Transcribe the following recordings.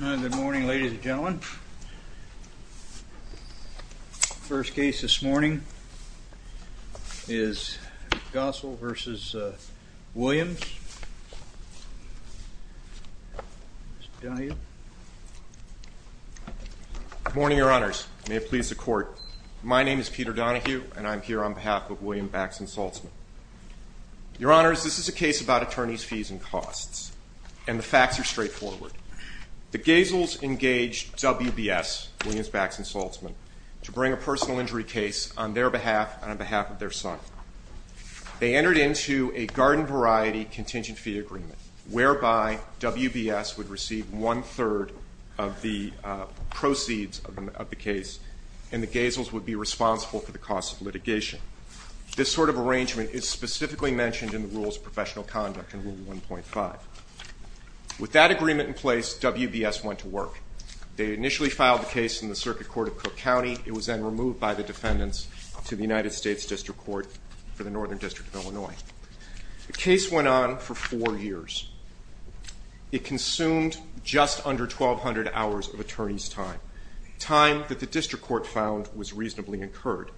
Good morning, ladies and gentlemen. The first case this morning is Gossel v. Williams. Mr. Donohue. Good morning, Your Honors. May it please the Court. My name is Peter Donohue, and I'm here on behalf of William Bax & Saltzman. Your Honors, this is a case about attorneys' fees and costs and the facts are straightforward. The Gasels engaged WBS, Williams, Bax & Saltzman, to bring a personal injury case on their behalf and on behalf of their son. They entered into a garden variety contingent fee agreement whereby WBS would receive one-third of the proceeds of the case and the Gasels would be responsible for the costs of litigation. This sort of arrangement is specifically mentioned in the Rules of Professional Conduct in Rule 1.5. With that agreement in place, WBS went to work. They initially filed the case in the Circuit Court of Cook County. It was then removed by the defendants to the United States District Court for the Northern District of Illinois. The case went on for four years. It consumed just under 1,200 hours of attorney's time, time that the District Court found was reasonably incurred.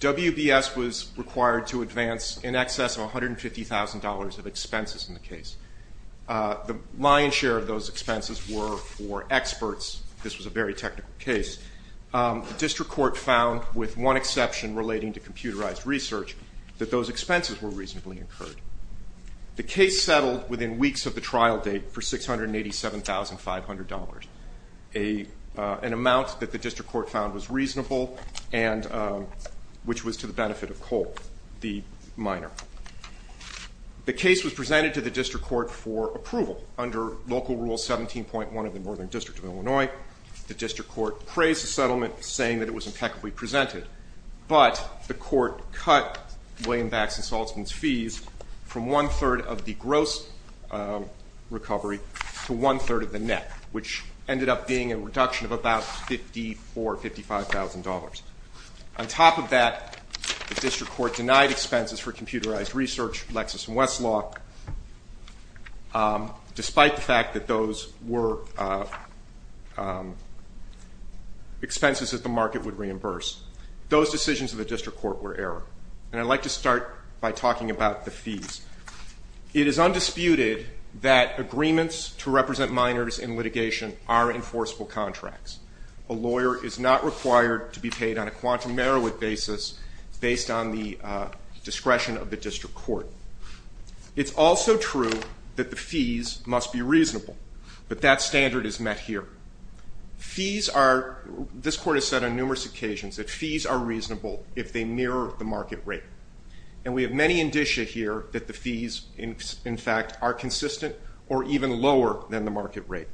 WBS was required to advance in excess of $150,000 of expenses in the case. The lion's share of those expenses were for experts. This was a very technical case. The District Court found, with one exception relating to computerized research, that those expenses were reasonably incurred. The case settled within weeks of the trial date for $687,500, an amount that the District Court found was reasonable and which was to the benefit of Cole, the minor. The case was presented to the District Court for approval under Local Rule 17.1 of the Northern District of Illinois. The District Court praised the settlement, saying that it was impeccably presented, but the court cut WBS's fees from one-third of the gross recovery to one-third of the net, which ended up being a reduction of about $54,000, $55,000. On top of that, the District Court denied expenses for computerized research, Lexis and Westlock, despite the fact that those were expenses that the market would reimburse. Those decisions of the District Court were error. And I'd like to start by talking about the fees. It is undisputed that agreements to represent minors in litigation are enforceable contracts. A lawyer is not required to be paid on a quantum merit basis based on the discretion of the District Court. It's also true that the fees must be reasonable, but that standard is met here. Fees are, this court has said on numerous occasions, that fees are reasonable if they mirror the market rate. And we have many indicia here that the fees, in fact, are consistent or even lower than the market rate.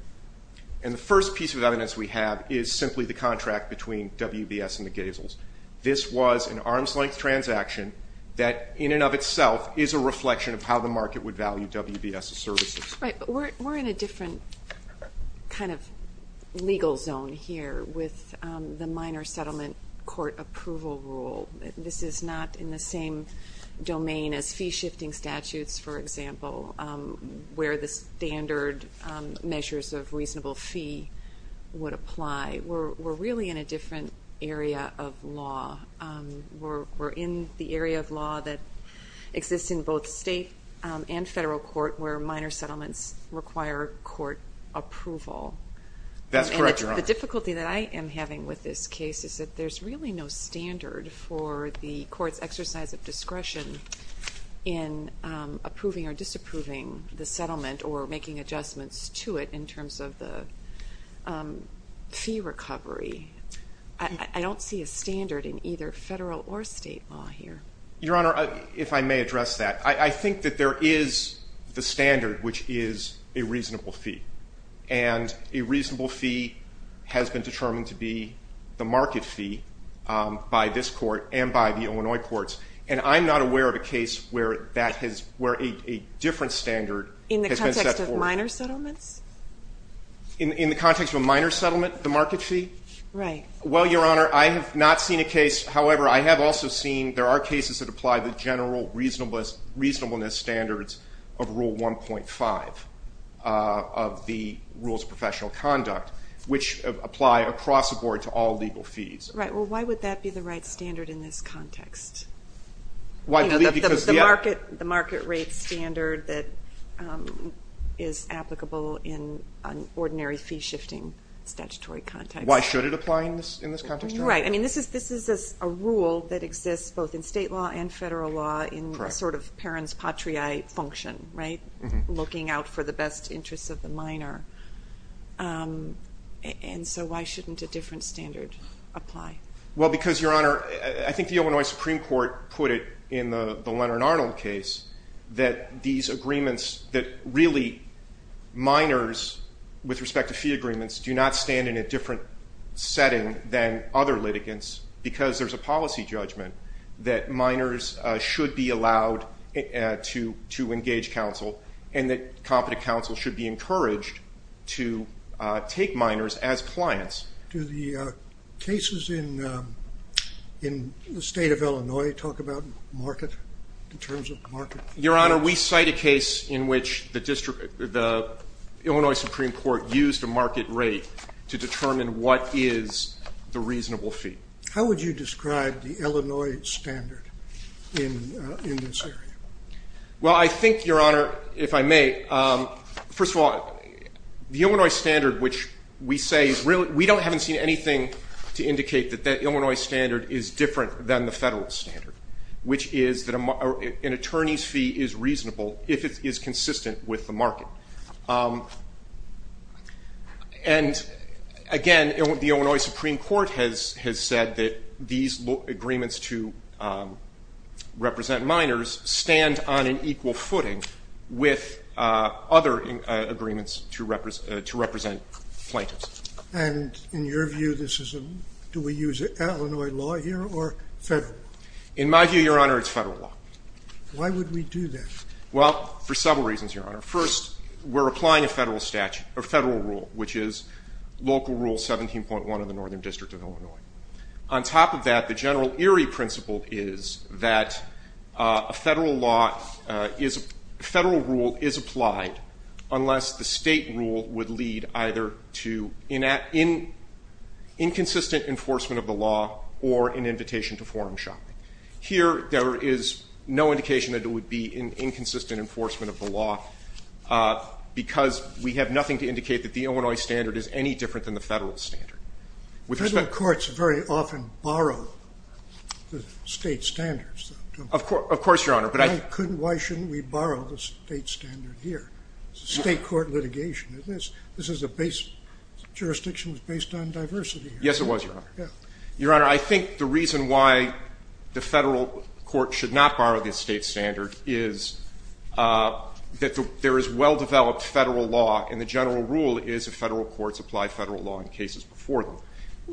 And the first piece of evidence we have is simply the contract between WBS and the Gazels. This was an arm's-length transaction that, in and of itself, is a reflection of how the market would value WBS's services. Right, but we're in a different kind of legal zone here with the minor settlement court approval rule. This is not in the same domain as fee-shifting statutes, for example, where the standard measures of reasonable fee would apply. We're really in a different area of law. We're in the area of law that exists in both state and federal court where minor settlements require court approval. That's correct, Your Honor. The difficulty that I am having with this case is that there's really no standard for the court's exercise of discretion in approving or disapproving the settlement or making adjustments to it in terms of the fee recovery. I don't see a standard in either federal or state law here. Your Honor, if I may address that, I think that there is the standard, which is a reasonable fee. And a reasonable fee has been determined to be the market fee by this court and by the Illinois courts. And I'm not aware of a case where a different standard has been set forth. In the context of minor settlements? In the context of a minor settlement, the market fee? Right. However, I have also seen there are cases that apply the general reasonableness standards of Rule 1.5 of the Rules of Professional Conduct, which apply across the board to all legal fees. Right. Well, why would that be the right standard in this context? The market rate standard that is applicable in an ordinary fee-shifting statutory context. Why should it apply in this context, Your Honor? Right. I mean, this is a rule that exists both in state law and federal law in a sort of parens patriae function, right? Looking out for the best interests of the minor. And so why shouldn't a different standard apply? Well, because, Your Honor, I think the Illinois Supreme Court put it in the Leonard Arnold case that these agreements that really minors with respect to fee agreements do not stand in a different setting than other litigants because there's a policy judgment that minors should be allowed to engage counsel and that competent counsel should be encouraged to take minors as clients. Do the cases in the State of Illinois talk about market, the terms of market? Your Honor, we cite a case in which the Illinois Supreme Court used a market rate to determine what is the reasonable fee. How would you describe the Illinois standard in this area? Well, I think, Your Honor, if I may, first of all, the Illinois standard, which we say is really we don't haven't seen anything to indicate that that Illinois standard is different than the federal standard, which is that an attorney's fee is reasonable if it is consistent with the market. And again, the Illinois Supreme Court has said that these agreements to represent minors stand on an equal footing with other agreements to represent plaintiffs. And in your view, this is a do we use Illinois law here or federal? In my view, Your Honor, it's federal law. Why would we do that? Well, for several reasons, Your Honor. First, we're applying a federal statute or federal rule, which is local rule 17.1 of the Northern District of Illinois. On top of that, the general eerie principle is that a federal law is a federal rule is applied unless the state rule would lead either to inconsistent enforcement of the law or an invitation to forum shopping. Here, there is no indication that it would be inconsistent enforcement of the law because we have nothing to indicate that the Illinois standard is any different than the federal standard. Federal courts very often borrow the state standards. Of course, Your Honor. Why shouldn't we borrow the state standard here? It's a state court litigation. This is a jurisdiction that's based on diversity. Yes, it was, Your Honor. Your Honor, I think the reason why the federal court should not borrow the state standard is that there is well-developed federal law, and the general rule is that federal courts apply federal law in cases before them.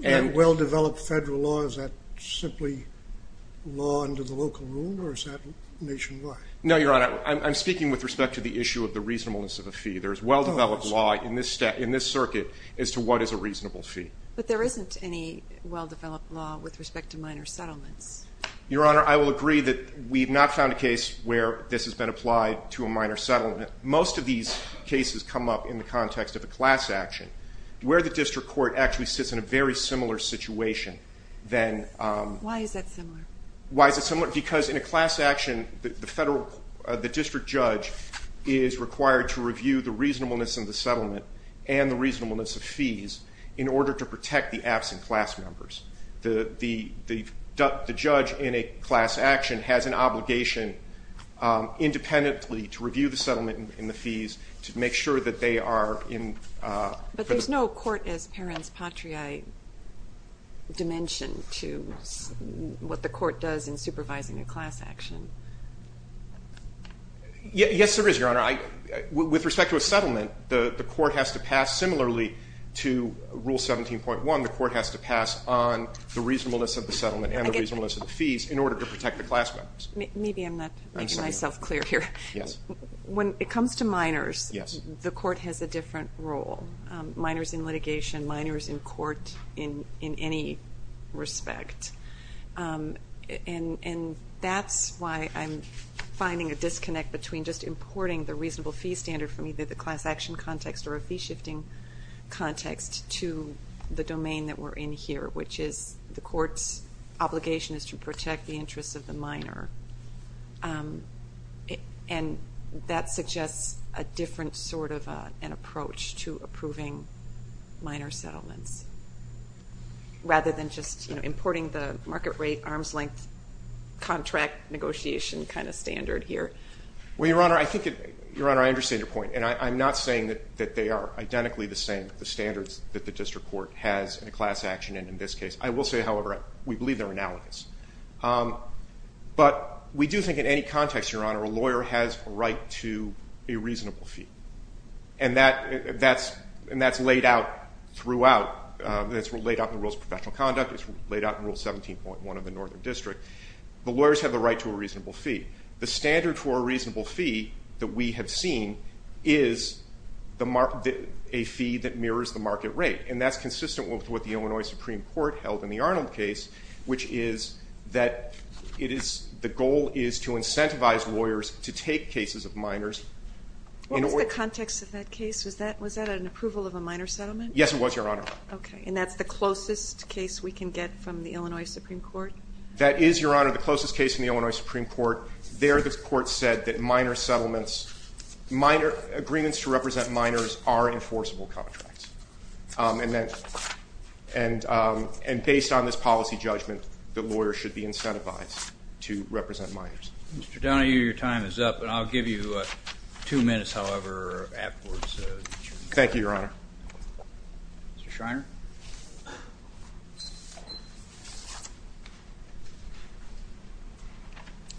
And well-developed federal law, is that simply law under the local rule, or is that nationwide? No, Your Honor. I'm speaking with respect to the issue of the reasonableness of a fee. There is well-developed law in this circuit as to what is a reasonable fee. But there isn't any well-developed law with respect to minor settlements. Your Honor, I will agree that we have not found a case where this has been applied to a minor settlement. Most of these cases come up in the context of a class action, where the district court actually sits in a very similar situation. Why is that similar? Why is it similar? Because in a class action, the district judge is required to review the reasonableness of the settlement and the reasonableness of fees in order to protect the absent class members. The judge in a class action has an obligation independently to review the settlement and the fees to make sure that they are in the ---- But there's no court-as-parents, patriae dimension to what the court does in supervising a class action. Yes, there is, Your Honor. With respect to a settlement, the court has to pass similarly to Rule 17.1. The court has to pass on the reasonableness of the settlement and the reasonableness of the fees in order to protect the class members. Maybe I'm not making myself clear here. Yes. When it comes to minors, the court has a different role, minors in litigation, minors in court in any respect. And that's why I'm finding a disconnect between just importing the reasonable fee standard from either the class action context or a fee-shifting context to the domain that we're in here, which is the court's obligation is to protect the interests of the minor. And that suggests a different sort of an approach to approving minor settlements, rather than just importing the market rate, arm's length, contract negotiation kind of standard here. Well, Your Honor, I think it ---- Your Honor, I understand your point. And I'm not saying that they are identically the same, the standards that the district court has in a class action and in this case. I will say, however, we believe they're analogous. But we do think in any context, Your Honor, a lawyer has a right to a reasonable fee. And that's laid out throughout. It's laid out in the Rules of Professional Conduct. It's laid out in Rule 17.1 of the Northern District. The lawyers have the right to a reasonable fee. The standard for a reasonable fee that we have seen is a fee that mirrors the market rate. And that's consistent with what the Illinois Supreme Court held in the Arnold case, which is that it is the goal is to incentivize lawyers to take cases of minors. What was the context of that case? Was that an approval of a minor settlement? Yes, it was, Your Honor. Okay. And that's the closest case we can get from the Illinois Supreme Court? That is, Your Honor, the closest case from the Illinois Supreme Court. There the court said that minor settlements, minor agreements to represent minors are enforceable contracts. And based on this policy judgment, the lawyer should be incentivized to represent minors. Mr. Donahue, your time is up, and I'll give you two minutes, however, afterwards. Thank you, Your Honor. Mr. Schreiner.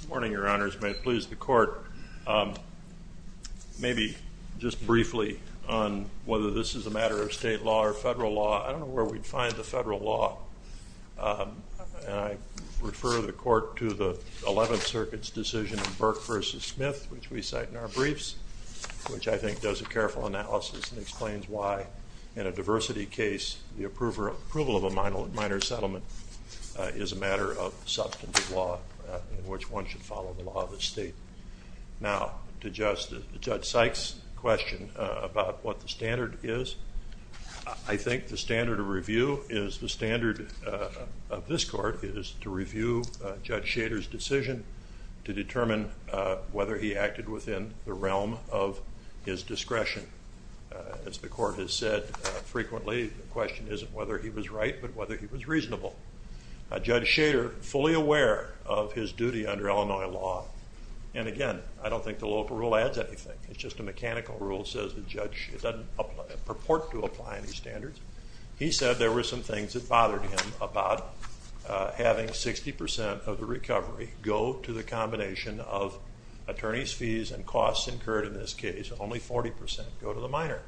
Good morning, Your Honors. May it please the Court, maybe just briefly on whether this is a matter of state law or federal law. I don't know where we'd find the federal law. And I refer the Court to the Eleventh Circuit's decision in Burke v. Smith, which we cite in our briefs, which I think does a careful analysis and explains why, in a diversity case, the approval of a minor settlement is a matter of substantive law in which one should follow the law of the state. Now, to Judge Sykes' question about what the standard is, I think the standard of review is the standard of this Court is to review Judge Schader's decision to determine whether he acted within the realm of his discretion. As the Court has said frequently, the question isn't whether he was right but whether he was reasonable. Judge Schader, fully aware of his duty under Illinois law, and again, I don't think the local rule adds anything. It's just a mechanical rule that says the judge doesn't purport to apply any standards. He said there were some things that bothered him about having 60 percent of the recovery go to the combination of attorney's fees and costs incurred in this case, only 40 percent go to the minor.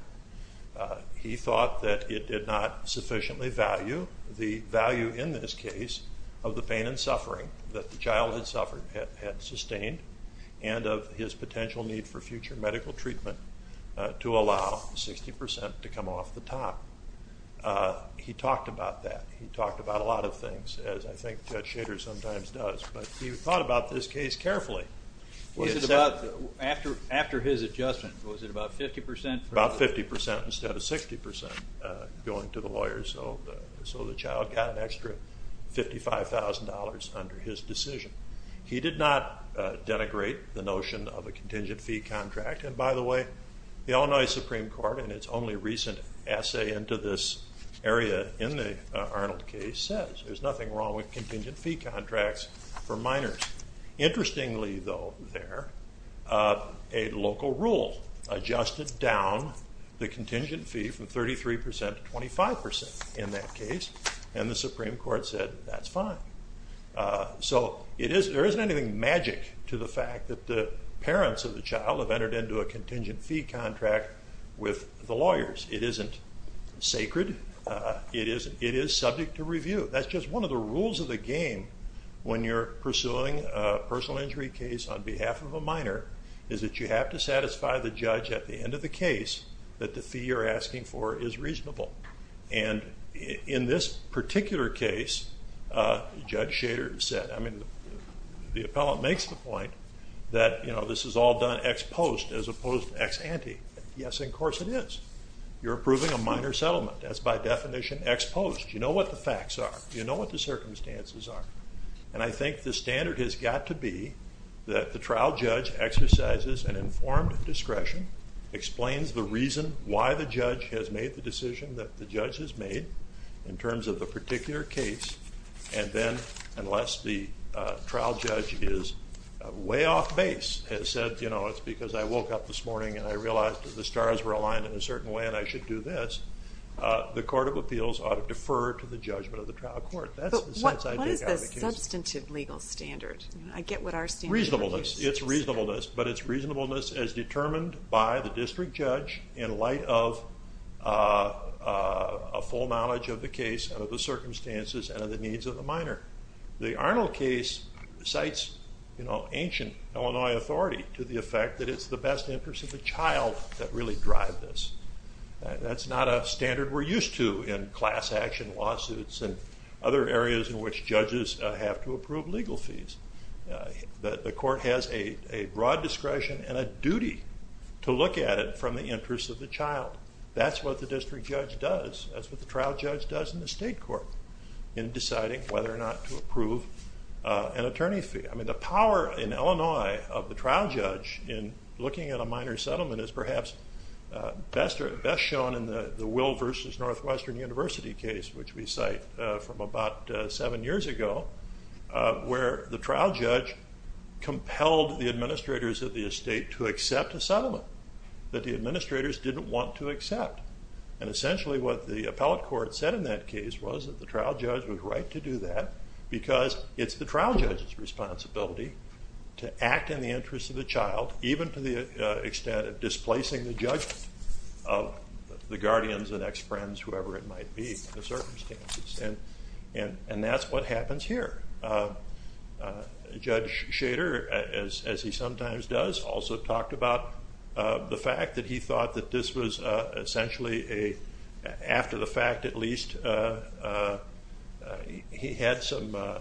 He thought that it did not sufficiently value the value in this case of the pain and suffering that the child had suffered had sustained and of his potential need for future medical treatment to allow 60 percent to come off the top. He talked about that. He talked about a lot of things, as I think Judge Schader sometimes does, but he thought about this case carefully. After his adjustment, was it about 50 percent? About 50 percent instead of 60 percent going to the lawyer, so the child got an extra $55,000 under his decision. He did not denigrate the notion of a contingent fee contract, and by the way, the Illinois Supreme Court, in its only recent essay into this area in the Arnold case, says there's nothing wrong with contingent fee contracts for minors. Interestingly, though, there, a local rule adjusted down the contingent fee from 33 percent to 25 percent in that case, and the Supreme Court said that's fine. So there isn't anything magic to the fact that the parents of the child have entered into a contingent fee contract with the lawyers. It isn't sacred. It is subject to review. That's just one of the rules of the game when you're pursuing a personal injury case on behalf of a minor, is that you have to satisfy the judge at the end of the case that the fee you're asking for is reasonable. And in this particular case, Judge Schader said, I mean, the appellant makes the point that, you know, this is all done ex post as opposed to ex ante. Yes, of course it is. You're approving a minor settlement. That's by definition ex post. You know what the facts are. You know what the circumstances are. And I think the standard has got to be that the trial judge exercises an informed discretion, explains the reason why the judge has made the decision that the judge has made in terms of the particular case, and then, unless the trial judge is way off base, has said, you know, it's because I woke up this morning and I realized that the stars were aligned in a certain way and I should do this, the Court of Appeals ought to defer to the judgment of the trial court. That's the sense I take out of the case. But what is the substantive legal standard? I get what our standard is. Reasonableness. It's reasonableness, but it's reasonableness as determined by the district judge in light of a full knowledge of the case and of the circumstances and of the needs of the minor. The Arnold case cites, you know, ancient Illinois authority to the effect that it's the best interest of the child that really drives this. That's not a standard we're used to in class action lawsuits and other areas in which judges have to approve legal fees. The court has a broad discretion and a duty to look at it from the interest of the child. That's what the district judge does. That's what the trial judge does in the state court in deciding whether or not to approve an attorney fee. I mean the power in Illinois of the trial judge in looking at a minor settlement is perhaps best shown in the Will v. Northwestern University case, which we cite from about seven years ago, where the trial judge compelled the administrators of the estate to accept a settlement that the administrators didn't want to accept. And essentially what the appellate court said in that case was that the trial judge was right to do that because it's the trial judge's responsibility to act in the interest of the child, even to the extent of displacing the judgment of the guardians and ex-friends, whoever it might be, in the circumstances. And that's what happens here. Judge Shader, as he sometimes does, also talked about the fact that he thought that this was essentially a, after the fact at least, he had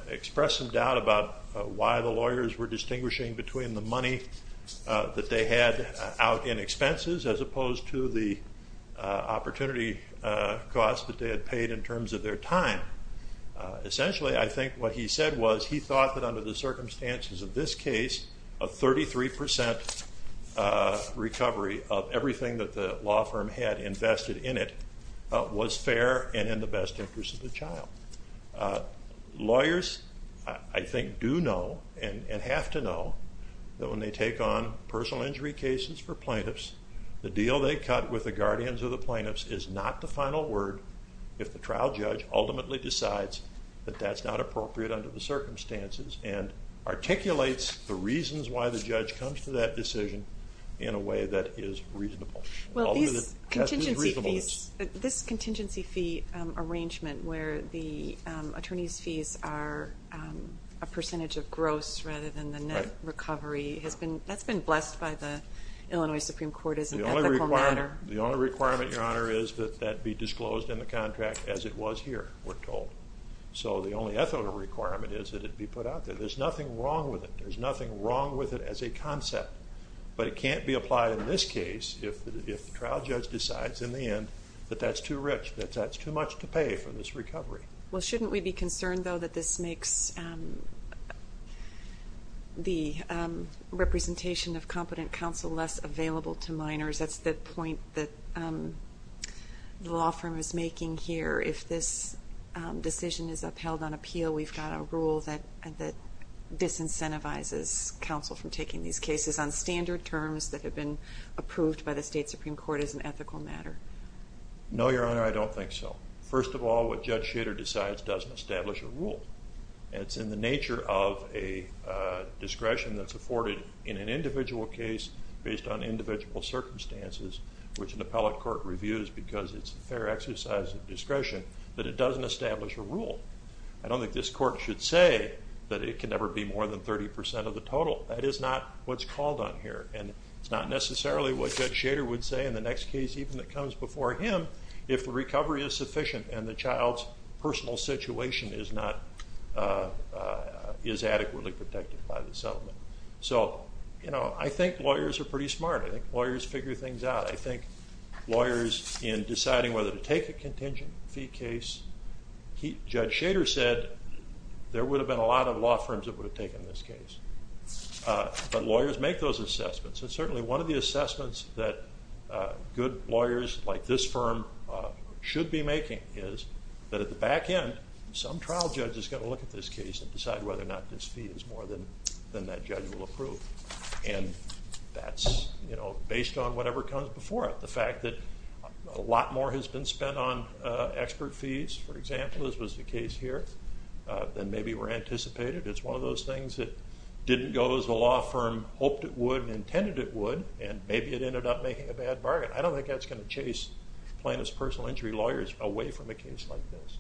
expressed some doubt about why the lawyers were distinguishing between the money that they had out in expenses as opposed to the opportunity costs that they had paid in terms of their time. Essentially I think what he said was he thought that under the circumstances of this case, a 33% recovery of everything that the law firm had invested in it was fair and in the best interest of the child. Lawyers, I think, do know and have to know that when they take on personal injury cases for plaintiffs, the deal they cut with the guardians or the plaintiffs is not the final word if the trial judge ultimately decides that that's not appropriate under the circumstances and articulates the reasons why the judge comes to that decision in a way that is reasonable. Well, these contingency fees, this contingency fee arrangement where the attorney's fees are a percentage of gross rather than the net recovery, that's been blessed by the Illinois Supreme Court as an ethical matter. The only requirement, Your Honor, is that that be disclosed in the contract as it was here, we're told. So the only ethical requirement is that it be put out there. There's nothing wrong with it. There's nothing wrong with it as a concept. But it can't be applied in this case if the trial judge decides in the end that that's too rich, that that's too much to pay for this recovery. Well, shouldn't we be concerned, though, that this makes the representation of competent counsel less available to minors? That's the point that the law firm is making here. If this decision is upheld on appeal, we've got a rule that disincentivizes counsel from taking these cases on standard terms that have been approved by the state Supreme Court as an ethical matter. No, Your Honor, I don't think so. First of all, what Judge Shader decides doesn't establish a rule. It's in the nature of a discretion that's afforded in an individual case based on individual circumstances, which an appellate court reviews because it's a fair exercise of discretion, that it doesn't establish a rule. I don't think this court should say that it can never be more than 30 percent of the total. That is not what's called on here, and it's not necessarily what Judge Shader would say in the next case, even if it comes before him, if the recovery is sufficient and the child's personal situation is adequately protected by the settlement. So, you know, I think lawyers are pretty smart. I think lawyers figure things out. I think lawyers, in deciding whether to take a contingent fee case, Judge Shader said there would have been a lot of law firms that would have taken this case. But lawyers make those assessments. And certainly one of the assessments that good lawyers like this firm should be making is that at the back end, some trial judge is going to look at this case and decide whether or not this fee is more than that judge will approve. And that's, you know, based on whatever comes before it. The fact that a lot more has been spent on expert fees, for example, as was the case here, than maybe were anticipated is one of those things that didn't go as the law firm hoped it would and maybe it ended up making a bad bargain. I don't think that's going to chase plaintiff's personal injury lawyers away from a case like this.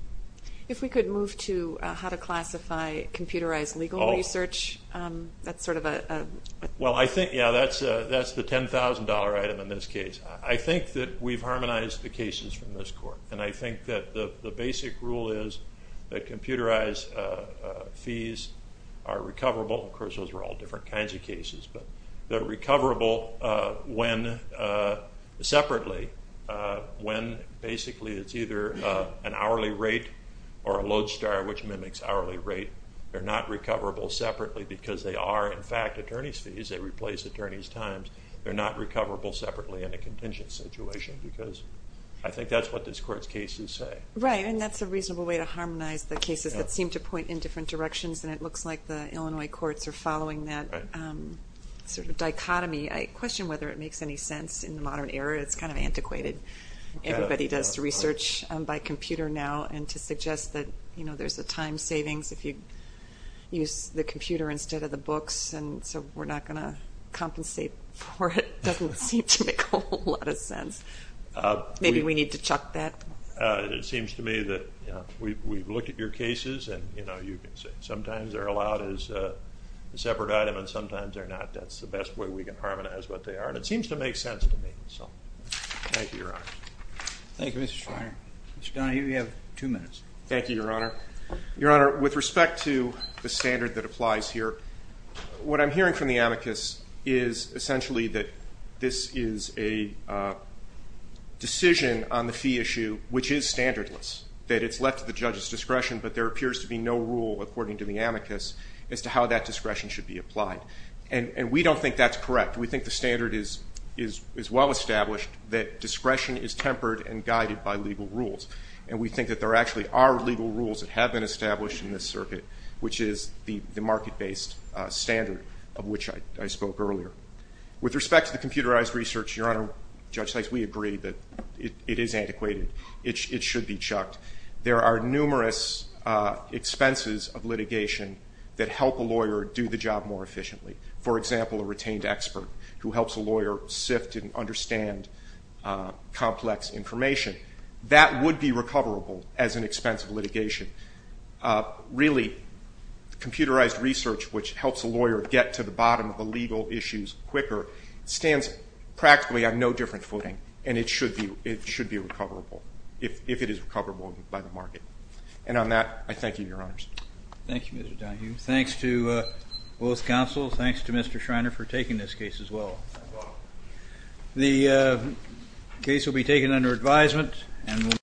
If we could move to how to classify computerized legal research, that's sort of a... Well, I think, yeah, that's the $10,000 item in this case. I think that we've harmonized the cases from this court. And I think that the basic rule is that computerized fees are recoverable. Of course, those are all different kinds of cases. But they're recoverable separately when basically it's either an hourly rate or a lodestar, which mimics hourly rate. They're not recoverable separately because they are, in fact, attorney's fees. They replace attorney's times. They're not recoverable separately in a contingent situation because I think that's what this court's cases say. Right, and that's a reasonable way to harmonize the cases that seem to point in different directions, and it looks like the Illinois courts are following that sort of dichotomy. I question whether it makes any sense in the modern era. It's kind of antiquated. Everybody does research by computer now, and to suggest that there's a time savings if you use the computer instead of the books and so we're not going to compensate for it doesn't seem to make a whole lot of sense. Maybe we need to chuck that. It seems to me that we've looked at your cases, and sometimes they're allowed as a separate item and sometimes they're not. That's the best way we can harmonize what they are, and it seems to make sense to me. Thank you, Your Honor. Thank you, Mr. Schreiner. Mr. Donahue, you have two minutes. Thank you, Your Honor. Your Honor, with respect to the standard that applies here, what I'm hearing from the amicus is essentially that this is a decision on the fee issue which is standardless, that it's left to the judge's discretion, but there appears to be no rule, according to the amicus, as to how that discretion should be applied. And we don't think that's correct. We think the standard is well established, that discretion is tempered and guided by legal rules, and we think that there actually are legal rules that have been established in this circuit, which is the market-based standard of which I spoke earlier. With respect to the computerized research, Your Honor, Judge Sykes, we agree that it is antiquated. It should be chucked. There are numerous expenses of litigation that help a lawyer do the job more efficiently. For example, a retained expert who helps a lawyer sift and understand complex information, that would be recoverable as an expense of litigation. Really, computerized research, which helps a lawyer get to the bottom of the legal issues quicker, stands practically on no different footing, and it should be recoverable, if it is recoverable by the market. And on that, I thank you, Your Honors. Thank you, Mr. Donohue. Thanks to both counsels. Thanks to Mr. Schreiner for taking this case as well. My pleasure. The case will be taken under advisement.